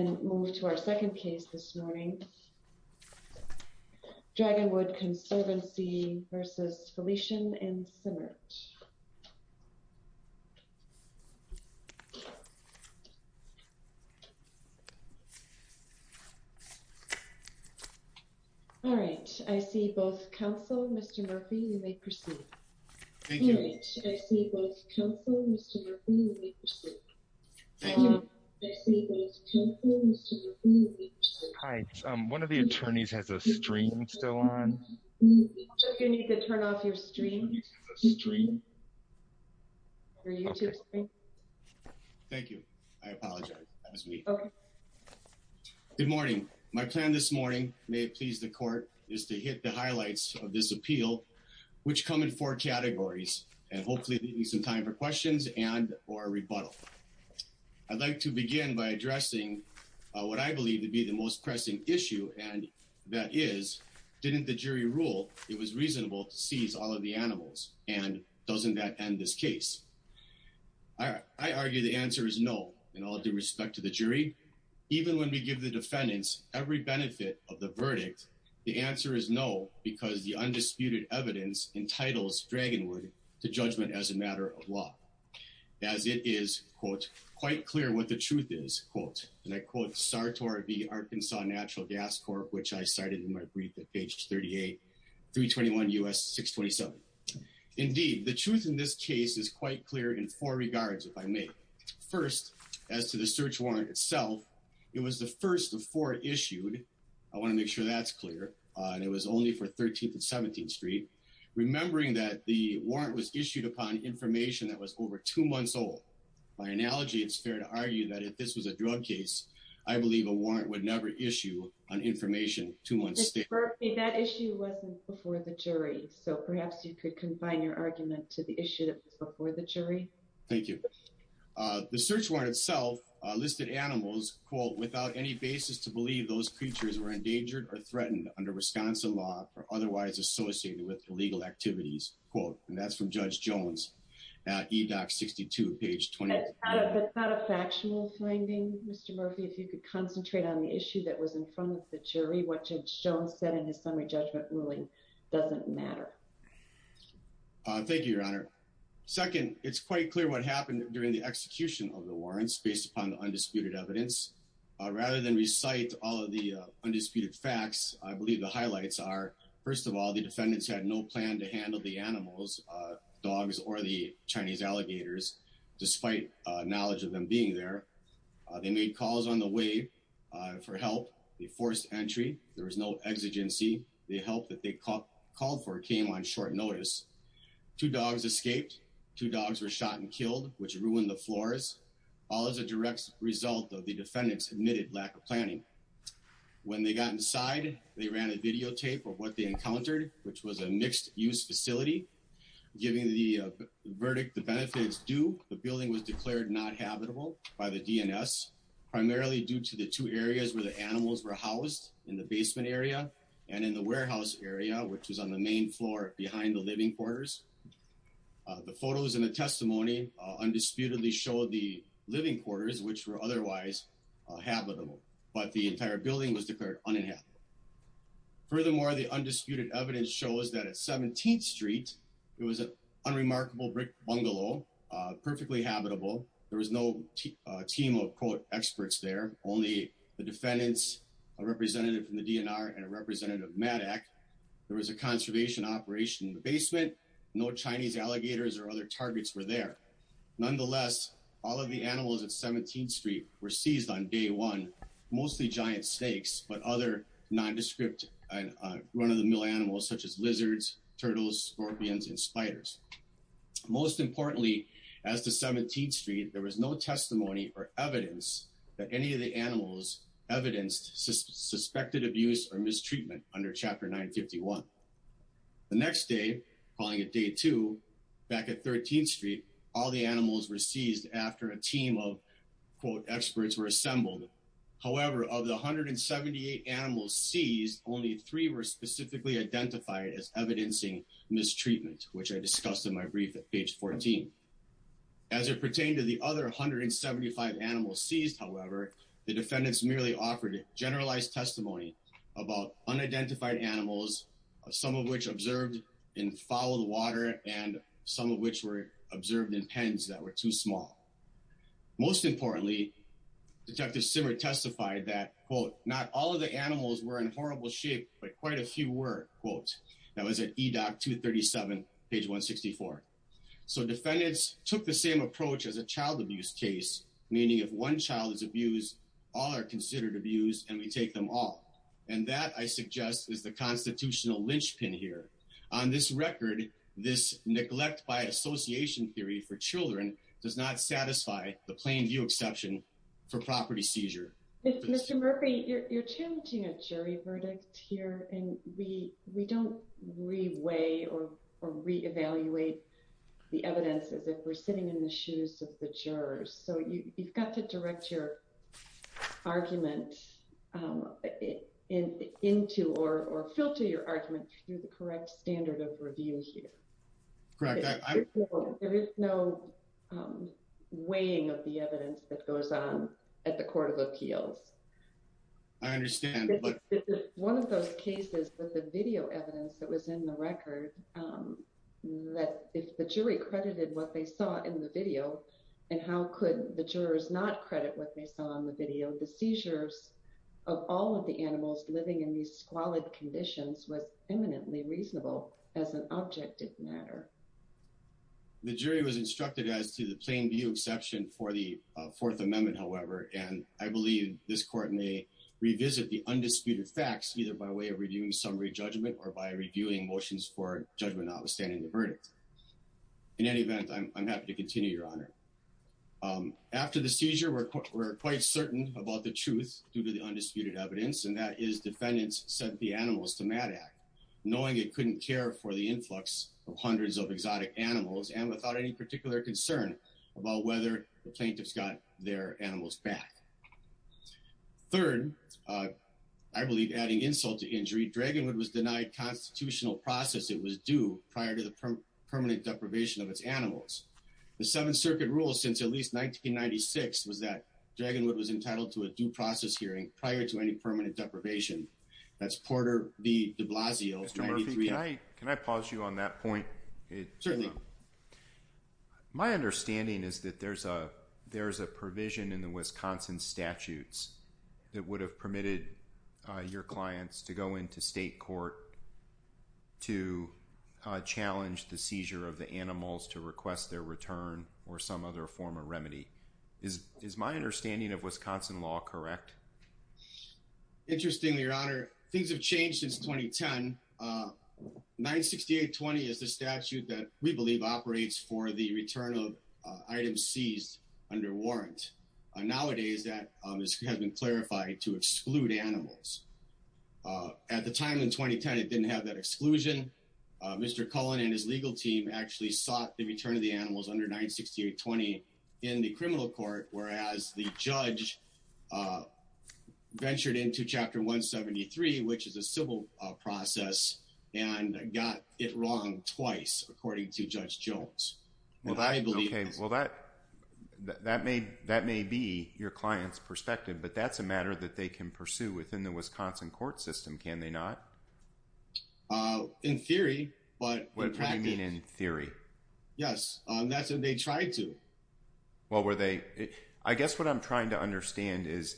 and move to our second case this morning. Dragonwood Conservancy v. Felician and Simmert. All right, I see both counsel, Mr. Murphy, you may proceed. All right, I see both counsel, Mr. Murphy, you may proceed. Thank you. I see both counsel, Mr. Murphy, you may proceed. Hi, one of the attorneys has a stream still on. You need to turn off your stream. One of the attorneys has a stream. Your YouTube stream. Thank you, I apologize, that was me. Okay. Good morning, my plan this morning, may it please the court, is to hit the highlights of this appeal, which come in four categories, and hopefully it'll give you some time for questions and or rebuttal. I'd like to begin by addressing what I believe to be the most pressing issue, and that is, didn't the jury rule it was reasonable to seize all of the animals, and doesn't that end this case? I argue the answer is no, in all due respect to the jury. Even when we give the defendants every benefit of the verdict, the answer is no because the undisputed evidence entitles Dragonwood to judgment as a matter of law, as it is, quote, quite clear what the truth is, quote, and I quote Sartor v. Arkansas Natural Gas Corp., which I cited in my brief at page 38, 321 U.S. 627. Indeed, the truth in this case is quite clear in four regards, if I may. First, as to the search warrant itself, it was the first of four issued, I want to make sure that's clear, and it was only for 13th and 17th Street, remembering that the warrant was issued upon information that was over two months old. By analogy, it's fair to argue that if this was a drug case, I believe a warrant would never issue on information two months later. That issue wasn't before the jury, so perhaps you could confine your argument to the issue that was before the jury. Thank you. The search warrant itself listed animals, quote, without any basis to believe those creatures were endangered or threatened under Wisconsin law or otherwise associated with illegal activities, quote, and that's from Judge Jones at EDOC 62, page 28. That's not a factual finding, Mr. Murphy. If you could concentrate on the issue that was in front of the jury, what Judge Jones said in his summary judgment ruling doesn't matter. Thank you, Your Honor. Second, it's quite clear what happened during the execution of the warrants based upon the undisputed evidence. Rather than recite all of the undisputed facts, I believe the highlights are, first of all, the defendants had no plan to handle the animals, dogs or the Chinese alligators, despite knowledge of them being there. They made calls on the way for help. They forced entry. There was no exigency. The help that they called for came on short notice. Two dogs escaped. Two dogs were shot and killed, which ruined the floors, all as a direct result of the defendants' admitted lack of planning. When they got inside, they ran a videotape of what they encountered, which was a mixed-use facility. Given the verdict, the benefit is due. The building was declared not habitable by the DNS, primarily due to the two areas where the animals were housed in the basement area and in the warehouse area, which was on the main floor behind the living quarters. The photos and the testimony undisputedly showed the living quarters, which were otherwise habitable. But the entire building was declared uninhabitable. Furthermore, the undisputed evidence shows that at 17th Street, it was an unremarkable brick bungalow, perfectly habitable. There was no team of, quote, experts there, only the defendants, a representative from the DNR and a representative of MADAC. There was a conservation operation in the basement. No Chinese alligators or other targets were there. Nonetheless, all of the animals at 17th Street were seized on day one, mostly giant snakes, but other nondescript, run-of-the-mill animals, such as lizards, turtles, scorpions, and spiders. Most importantly, as to 17th Street, there was no testimony or evidence that any of the animals evidenced suspected abuse or mistreatment under Chapter 951. The next day, calling it day two, back at 13th Street, all the animals were seized after a team of, quote, experts were assembled. However, of the 178 animals seized, only three were specifically identified as evidencing mistreatment, which I discussed in my brief at page 14. As it pertained to the other 175 animals seized, however, the defendants merely offered generalized testimony about unidentified animals, some of which observed in foul water and some of which were observed in pens that were too small. Most importantly, Detective Simmer testified that, quote, not all of the animals were in horrible shape, but quite a few were, quote. That was at E-Doc 237, page 164. So defendants took the same approach as a child abuse case, meaning if one child is abused, all are considered abused and we take them all. And that, I suggest, is the constitutional linchpin here. On this record, this neglect by association theory for children does not satisfy the plain view exception for property seizure. Mr. Murphy, you're challenging a jury verdict here and we don't re-weigh or re-evaluate the evidence as if we're sitting in the shoes of the jurors. So you've got to direct your argument into or filter your argument through the correct standard of review here. Correct. There is no weighing of the evidence that goes on at the Court of Appeals. I understand, but- One of those cases with the video evidence that was in the record, that if the jury credited what they saw in the video and how could the jurors not credit what they saw in the video, the seizures of all of the animals living in these squalid conditions was eminently reasonable as an object of matter. The jury was instructed as to the plain view exception for the Fourth Amendment, however, and I believe this court may revisit the undisputed facts either by way of reviewing summary judgment or by reviewing motions for judgment notwithstanding the verdict. In any event, I'm happy to continue, Your Honor. After the seizure, we're quite certain about the truth due to the undisputed evidence, and that is defendants sent the animals to MADD Act, knowing it couldn't care for the influx of hundreds of exotic animals and without any particular concern about whether the plaintiffs got their animals back. Third, I believe adding insult to injury, Dragonwood was denied constitutional process it was due prior to the permanent deprivation of its animals. The Seventh Circuit rule since at least 1996 was that Dragonwood was entitled to a due process hearing prior to any permanent deprivation. That's Porter v. de Blasio- Can I pause you on that point? Certainly. My understanding is that there's a provision in the Wisconsin statutes that would have permitted your clients to go into state court to challenge the seizure of the animals to request their return or some other form of remedy. Is my understanding of Wisconsin law correct? Interestingly, Your Honor, things have changed since 2010. 96820 is the statute that we believe operates for the return of items seized under warrant. Nowadays, that has been clarified to exclude animals. At the time in 2010, it didn't have that exclusion. Mr. Cullen and his legal team actually sought the return of the animals under 96820 in the criminal court, whereas the judge ventured into Chapter 173 which is a civil process and got it wrong twice according to Judge Jones. Well, that may be your client's perspective, but that's a matter that they can pursue within the Wisconsin court system, can they not? In theory, but- What do you mean in theory? Yes, that's what they tried to. Well, were they, I guess what I'm trying to understand is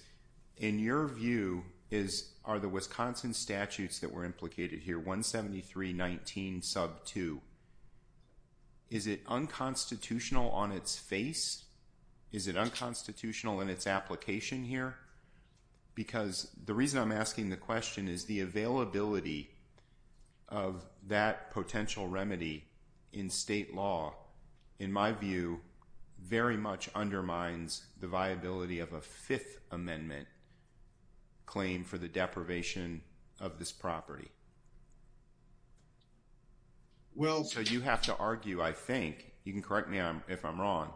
in your view, are the Wisconsin statutes that were implicated here, 17319 sub two, is it unconstitutional on its face? Is it unconstitutional in its application here? Because the reason I'm asking the question is the availability of that potential remedy in state law, in my view, very much undermines the viability of a Fifth Amendment claim for the deprivation of this property. Well- So you have to argue, I think, you can correct me if I'm wrong,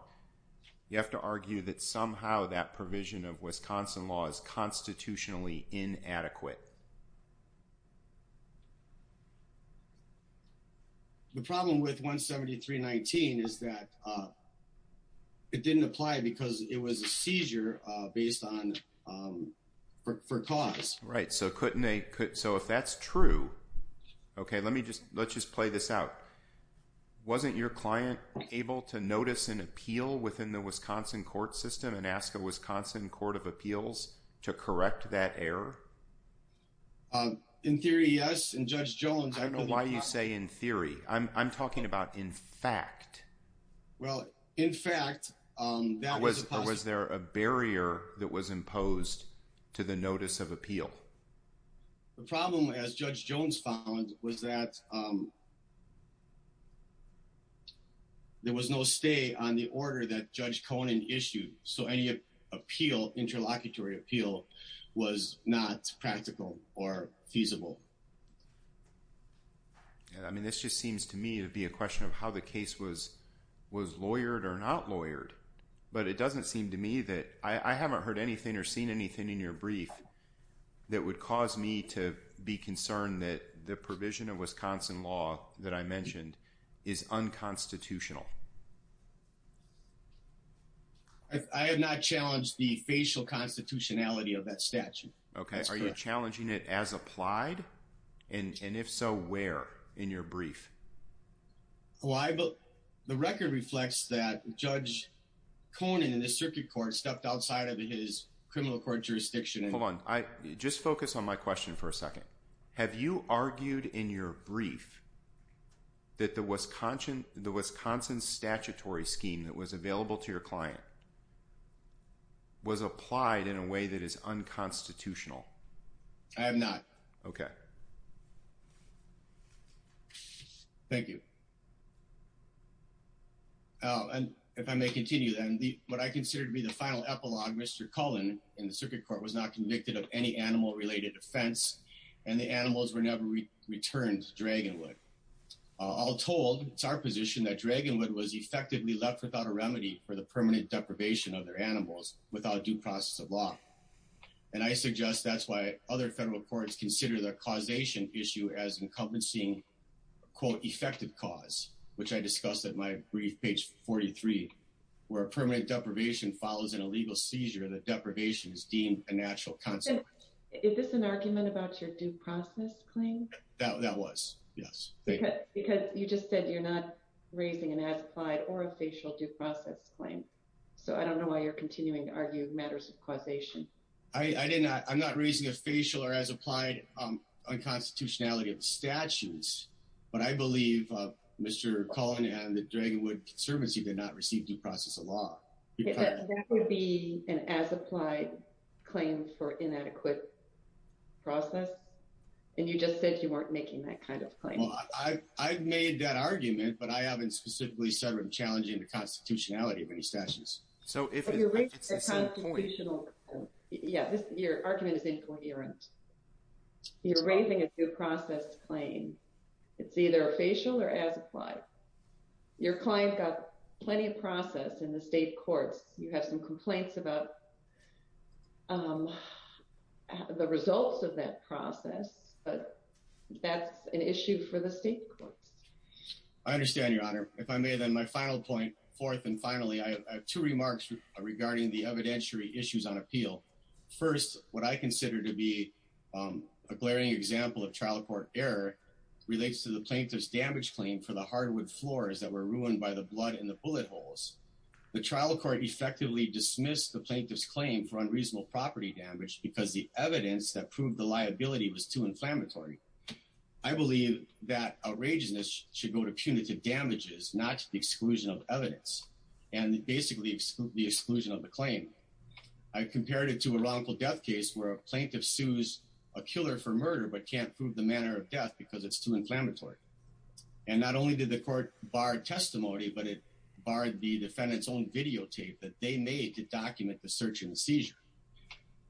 you have to argue that somehow that provision of Wisconsin law is constitutionally inadequate. The problem with 17319 is that it didn't apply because it was a seizure based on, for cause. Right, so couldn't they, so if that's true, okay, let me just, let's just play this out. Wasn't your client able to notice an appeal within the Wisconsin court system and ask a Wisconsin court of appeals to correct that error? In theory, yes, and Judge Jones, I know- Why do you say in theory? I'm talking about in fact. Well, in fact, that was a possible- Or was there a barrier that was imposed to the notice of appeal? The problem, as Judge Jones found, was that there was no stay on the order that Judge Conan issued. So any appeal, interlocutory appeal, was not practical or feasible. Yeah, I mean, this just seems to me to be a question of how the case was lawyered or not lawyered but it doesn't seem to me that, I haven't heard anything or seen anything in your brief that would cause me to be concerned that the provision of Wisconsin law that I mentioned is unconstitutional. I have not challenged the facial constitutionality of that statute. Okay, are you challenging it as applied? And if so, where in your brief? Well, the record reflects that Judge Conan in the circuit court stepped outside of his criminal court jurisdiction. Hold on, just focus on my question for a second. Have you argued in your brief that the Wisconsin statutory scheme that was available to your client was applied in a way that is unconstitutional? I have not. Okay. Thank you. And if I may continue then, what I consider to be the final epilogue, Mr. Cullen in the circuit court was not convicted of any animal related offense and the animals were never returned to Dragonwood. All told, it's our position that Dragonwood was effectively left without a remedy for the permanent deprivation of their animals without due process of law. And I suggest that's why other federal courts consider the causation issue as encompassing quote effective cause, which I discussed at my brief page 43, where a permanent deprivation follows an illegal seizure that deprivation is deemed a natural consequence. Is this an argument about your due process claim? That was, yes. Because you just said you're not raising an as applied or a facial due process claim. So I don't know why you're continuing to argue matters of causation. I did not, I'm not raising a facial or as applied unconstitutionality of statutes, but I believe Mr. Cullen and the Dragonwood Conservancy did not receive due process of law. That would be an as applied claim for inadequate process. And you just said you weren't making that kind of claim. I've made that argument, but I haven't specifically started challenging the constitutionality of any statutes. So if it's the same point. Yeah, your argument is incoherent. You're raising a due process claim. It's either a facial or as applied. Your client got plenty of process in the state courts. You have some complaints about the results of that process, but that's an issue for the state courts. I understand your honor. If I may then my final point fourth and finally, I have two remarks regarding the evidentiary issues on appeal. First, what I consider to be a glaring example of trial court error relates to the plaintiff's damage claim for the hardwood floors that were ruined by the blood in the bullet holes. The trial court effectively dismissed the plaintiff's claim for unreasonable property damage because the evidence that proved the liability was too inflammatory. I believe that outrageousness should go to punitive damages, not to the exclusion of evidence. And basically exclude the exclusion of the claim. I compared it to a wrongful death case where a plaintiff sues a killer for murder, but can't prove the manner of death because it's too inflammatory. And not only did the court bar testimony, but it barred the defendant's own videotape that they made to document the search and seizure.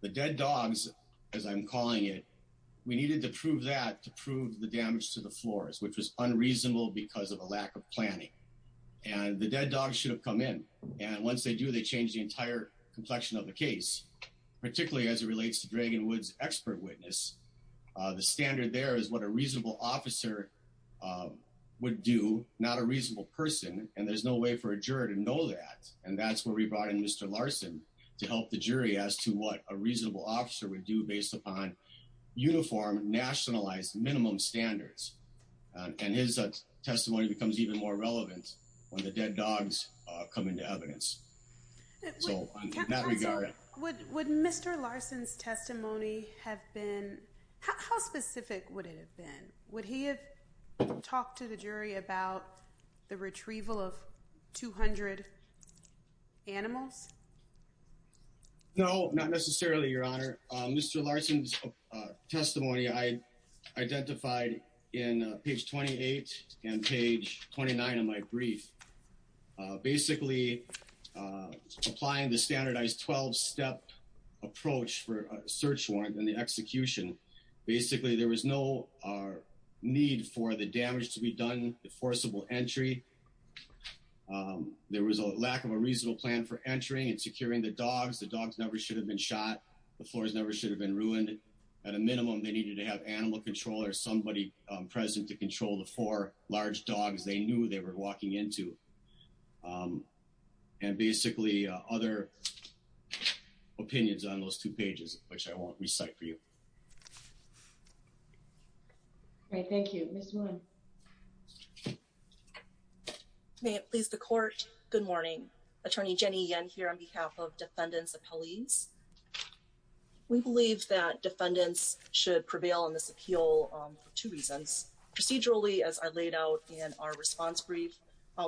The dead dogs, as I'm calling it, we needed to prove that to prove the damage to the floors, which was unreasonable because of a lack of planning. And the dead dogs should have come in. And once they do, they change the entire complexion of the case, particularly as it relates to Dragonwood's expert witness. The standard there is what a reasonable officer would do, not a reasonable person. And there's no way for a juror to know that. And that's where we brought in Mr. Larson to help the jury as to what a reasonable officer would do based upon uniform nationalized minimum standards. And his testimony becomes even more relevant when the dead dogs come into evidence. So in that regard. Would Mr. Larson's testimony have been, how specific would it have been? Would he have talked to the jury about the retrieval of 200 animals? No, not necessarily, Your Honor. Mr. Larson's testimony, I identified in page 28 and page 29 of my brief, basically applying the standardized 12-step approach for a search warrant and the execution. Basically, there was no need for the damage to be done, the forcible entry. There was a lack of a reasonable plan for entering and securing the dogs. The dogs never should have been shot. The floors never should have been ruined. At a minimum, they needed to have animal control or somebody present to control the four large dogs they knew they were walking into. And basically other opinions on those two pages, which I won't recite for you. Okay, thank you. Ms. Wood. May it please the court. Good morning. Attorney Jenny Yen here on behalf of defendants' appellees. We believe that defendants should prevail on this appeal for two reasons. Procedurally, as I laid out in our response brief,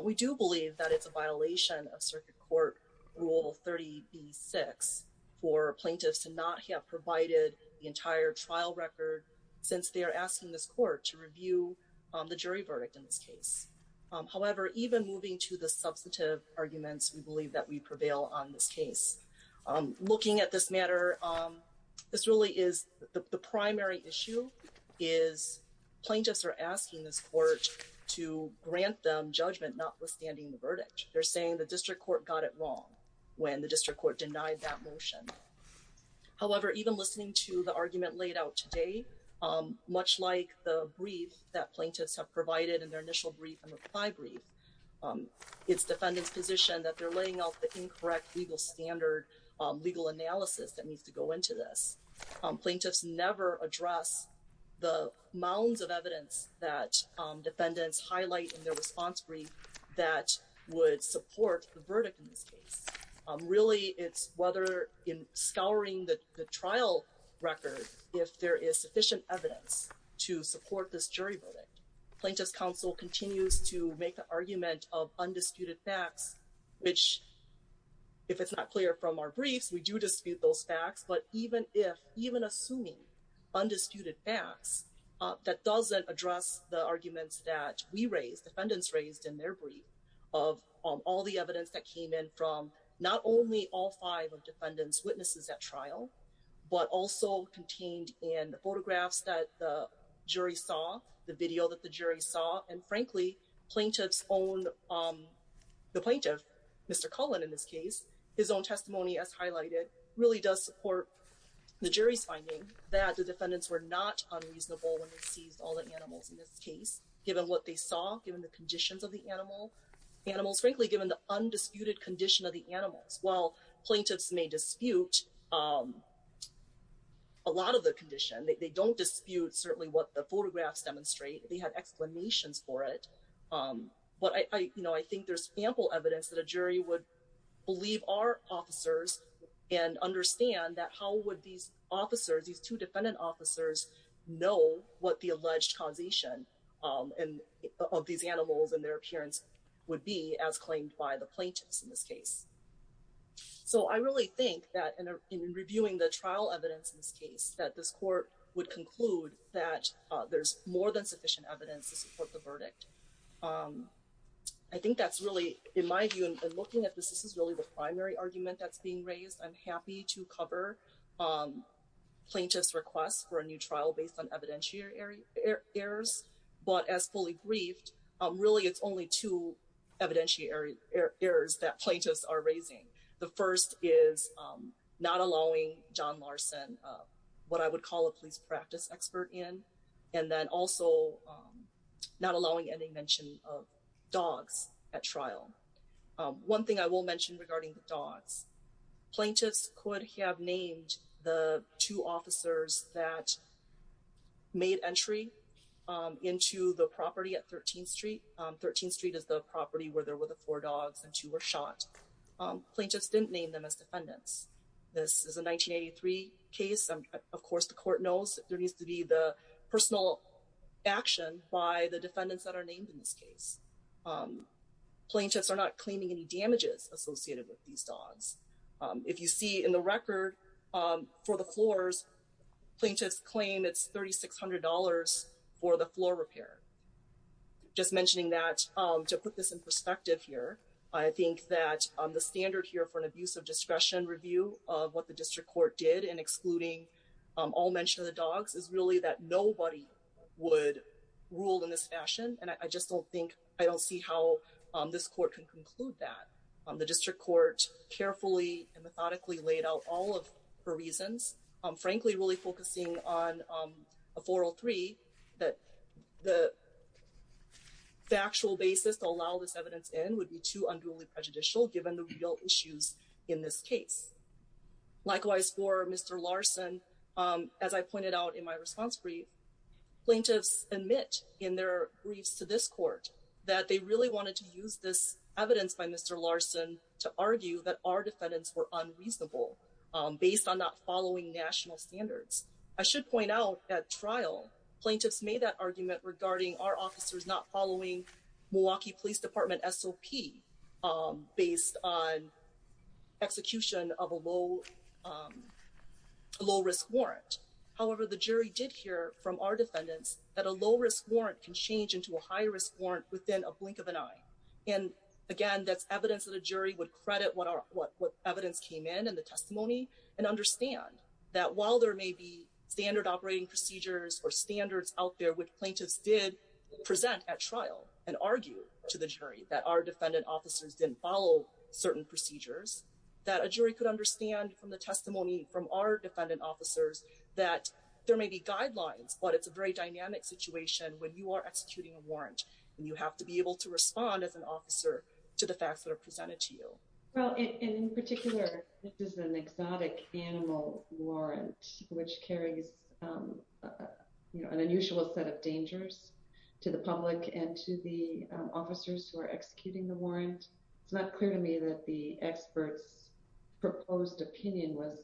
we do believe that it's a violation of Circuit Court Rule 30B-6 for plaintiffs to not have provided the entire trial record since they are asking this court to review the jury verdict in this case. we believe that we prevail on this case. Looking at this matter, this really is the primary issue is plaintiffs are asking this court to grant them judgment notwithstanding the verdict. They're saying the district court got it wrong when the district court denied that motion. However, even listening to the argument laid out today, much like the brief that plaintiffs have provided in their initial brief and reply brief, it's defendant's position that they're laying out the incorrect legal standard, legal analysis that needs to go into this. Plaintiffs never address the mounds of evidence that defendants highlight in their response brief that would support the verdict in this case. Really, it's whether in scouring the trial record, if there is sufficient evidence to support this jury verdict. Plaintiffs' counsel continues to make the argument of undisputed facts, which if it's not clear from our briefs, we do dispute those facts. But even assuming undisputed facts that doesn't address the arguments that we raised, defendants raised in their brief of all the evidence that came in from not only all five of defendants witnesses at trial, but also contained in the photographs that the jury saw, the video that the jury saw, and frankly, the plaintiff, Mr. Cullen in this case, his own testimony as highlighted, really does support the jury's finding that the defendants were not unreasonable when they seized all the animals in this case, given what they saw, given the conditions of the animals, frankly, given the undisputed condition of the animals. While plaintiffs may dispute a lot of the condition, they don't dispute certainly what the photographs demonstrate, they have explanations for it. But I think there's ample evidence that a jury would believe our officers and understand that how would these officers, these two defendant officers, know what the alleged causation of these animals and their appearance would be as claimed by the plaintiffs in this case. So I really think that in reviewing the trial evidence in this case, that this court would conclude that there's more than sufficient evidence to support the verdict. I think that's really, in my view, and looking at this, this is really the primary argument that's being raised. I'm happy to cover plaintiff's requests for a new trial based on evidentiary errors, but as fully briefed, really it's only two evidentiary errors that plaintiffs are raising. The first is not allowing John Larson, what I would call a police practice expert in, and then also not allowing any mention of dogs at trial. One thing I will mention regarding the dogs, plaintiffs could have named the two officers that made entry into the property at 13th Street. 13th Street is the property where there were the four dogs and two were shot. Plaintiffs didn't name them as defendants. This is a 1983 case. Of course, the court knows there needs to be the personal action by the defendants that are named in this case. Plaintiffs are not claiming any damages associated with these dogs. If you see in the record for the floors, plaintiffs claim it's $3,600 for the floor repair. Just mentioning that, to put this in perspective here, I think that the standard here for an abuse of discretion review of what the district court did in excluding all mention of the dogs is really that nobody would rule in this fashion, and I just don't think, I don't see how this court can conclude that. The district court carefully and methodically laid out all of the reasons, frankly, really focusing on a 403 that the factual basis to allow this evidence in would be too unduly prejudicial given the real issues in this case. Likewise for Mr. Larson, as I pointed out in my response brief, plaintiffs admit in their briefs to this court that they really wanted to use this evidence by Mr. Larson to argue that our defendants were unreasonable based on not following national standards. I should point out at trial, plaintiffs made that argument regarding our officers not following Milwaukee Police Department SOP based on execution of a low risk warrant. However, the jury did hear from our defendants that a low risk warrant can change into a high risk warrant within a blink of an eye. And again, that's evidence that a jury would credit what evidence came in and the testimony and understand that while there may be standard operating procedures or standards out there which plaintiffs did present at trial and argue to the jury that our defendant officers didn't follow certain procedures, that a jury could understand from the testimony from our defendant officers that there may be guidelines, but it's a very dynamic situation when you are executing a warrant and you have to be able to respond as an officer to the facts that are presented to you. Well, in particular, this is an exotic animal warrant which carries an unusual set of dangers to the public and to the officers who are executing the warrant. It's not clear to me that the expert's proposed opinion was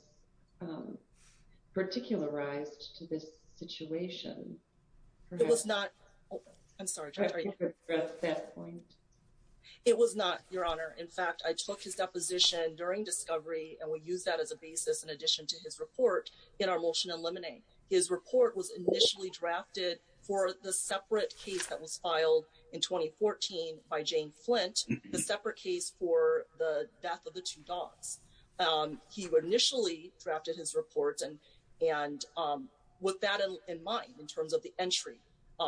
particularized to this situation. It was not. I'm sorry. It was not your honor. In fact, I took his deposition during discovery and we use that as a basis in addition to his report in our motion eliminate. His report was initially drafted for the separate case that was filed in 2014 by Jane Flint, the separate case for the death of the two dogs. He would initially drafted his report and with that in mind, in terms of the entry,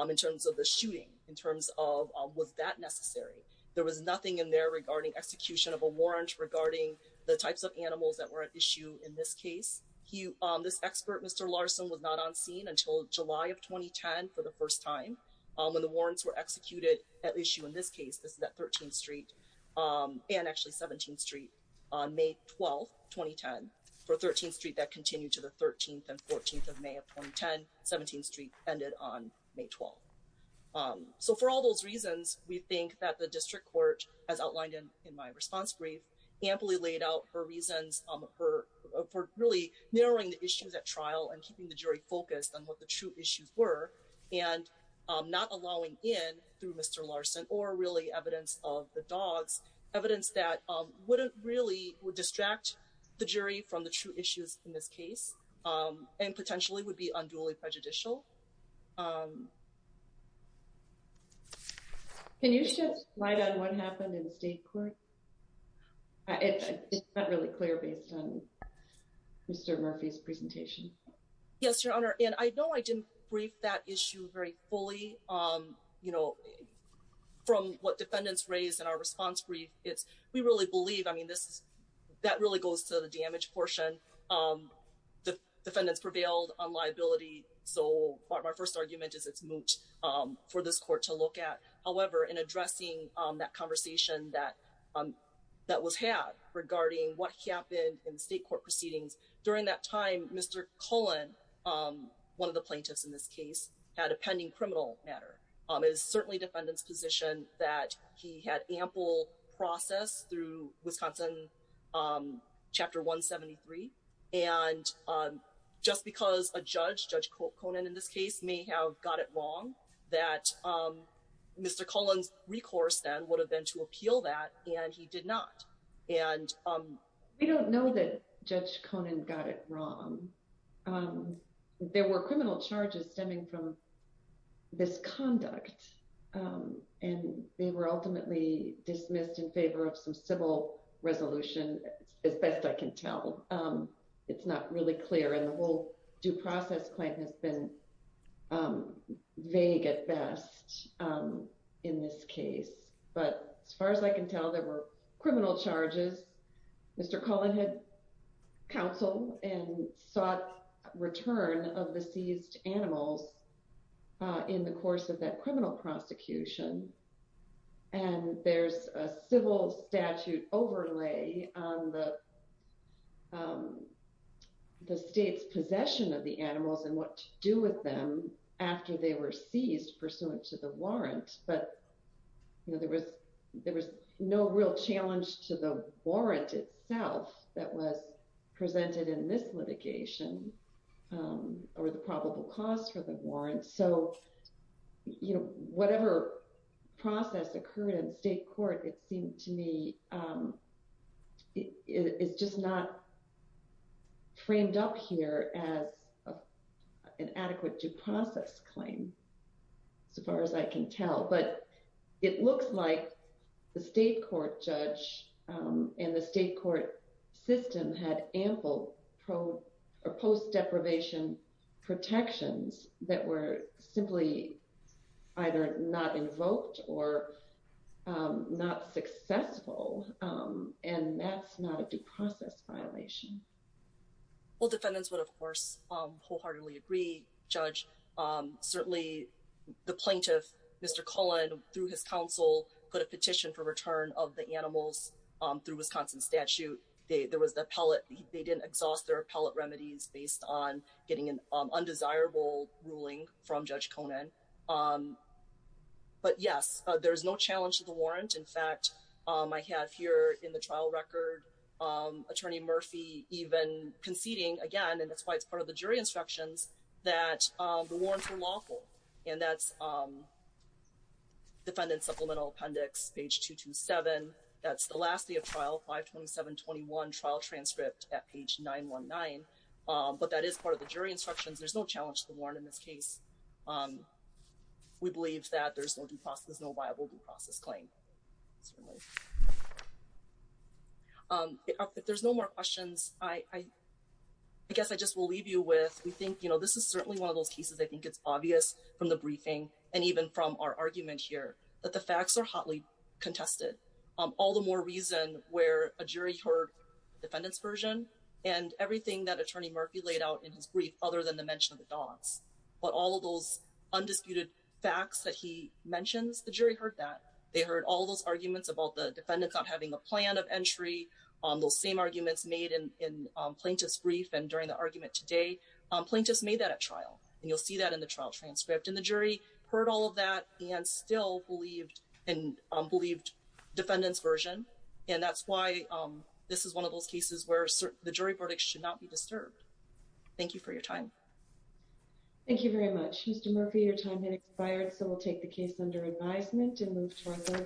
in terms of the shooting, in terms of was that necessary? There was nothing in there regarding execution of a warrant regarding the types of animals that were at issue in this case. This expert, Mr. Larson was not on scene until July of 2010 for the first time when the warrants were executed at issue in this case. This is that 13th street and actually 17th street on May 12th, 2010 for 13th street that continued to the 13th and 14th of May of 2010, 17th street ended on May 12th. So for all those reasons, we think that the district court as outlined in my response brief, amply laid out for reasons for really narrowing the issues at trial and keeping the jury focused on what the true issues were and not allowing in through Mr. Larson or really evidence of the dogs, evidence that wouldn't really distract the jury from the true issues in this case and potentially would be unduly prejudicial. Can you shed light on what happened in the state court? It's not really clear based on Mr. Murphy's presentation. Yes, Your Honor. And I know I didn't brief that issue very fully, from what defendants raised in our response brief. It's, we really believe, I mean, that really goes to the damage portion. The defendants prevailed on liability. So my first argument is it's moot for this court to look at. However, in addressing that conversation that was had regarding what happened in state court proceedings, during that time, Mr. Cullen, one of the plaintiffs in this case, had a pending criminal matter. It was certainly defendant's position that he had ample process through Wisconsin chapter 173. And just because a judge, Judge Conan in this case, may have got it wrong, that Mr. Cullen's recourse then would have been to appeal that and he did not. And- We don't know that Judge Conan got it wrong. There were criminal charges stemming from this conduct and they were ultimately dismissed in favor of some civil resolution, as best I can tell. It's not really clear. And the whole due process claim has been vague at best in this case. But as far as I can tell, there were criminal charges. Mr. Cullen had counsel and sought return of the seized animals in the course of that criminal prosecution. And there's a civil statute overlay on the state's possession of the animals and what to do with them after they were seized pursuant to the warrant. But there was no real challenge to the warrant itself that was presented in this litigation or the probable cause for the warrant. So, whatever process occurred in state court, it seemed to me, it's just not framed up here as an adequate due process claim, so far as I can tell. But it looks like the state court judge and the state court system had ample or post deprivation protections that were simply either not invoked or not successful. And that's not a due process violation. Well, defendants would, of course, wholeheartedly agree. Judge, certainly the plaintiff, Mr. Cullen, through his counsel, put a petition for return of the animals through Wisconsin statute. There was the appellate. They didn't exhaust their appellate remedies based on getting an undesirable ruling from Judge Conan. But yes, there's no challenge to the warrant. In fact, I have here in the trial record, Attorney Murphy even conceding, again, and that's why it's part of the jury instructions, that the warrants were lawful. And that's defendant supplemental appendix, page 227. That's the last day of trial, 52721 trial transcript at page 919. But that is part of the jury instructions. There's no challenge to the warrant in this case. We believe that there's no viable due process claim. If there's no more questions, I guess I just will leave you with, we think this is certainly one of those cases, I think it's obvious from the briefing and even from our argument here, that the facts are hotly contested. All the more reason where a jury heard the defendant's version and everything that Attorney Murphy laid out in his brief, other than the mention of the dogs. But all of those undisputed facts that he mentions, the jury heard that. They heard all those arguments about the defendants not having a plan of entry, those same arguments made in plaintiff's brief and during the argument today. Plaintiffs made that at trial, and you'll see that in the trial transcript. And the jury heard all of that and still believed defendant's version. And that's why this is one of those cases where the jury verdict should not be disturbed. Thank you for your time. Thank you very much. Mr. Murphy, your time has expired. So we'll take the case under advisement and move to our third.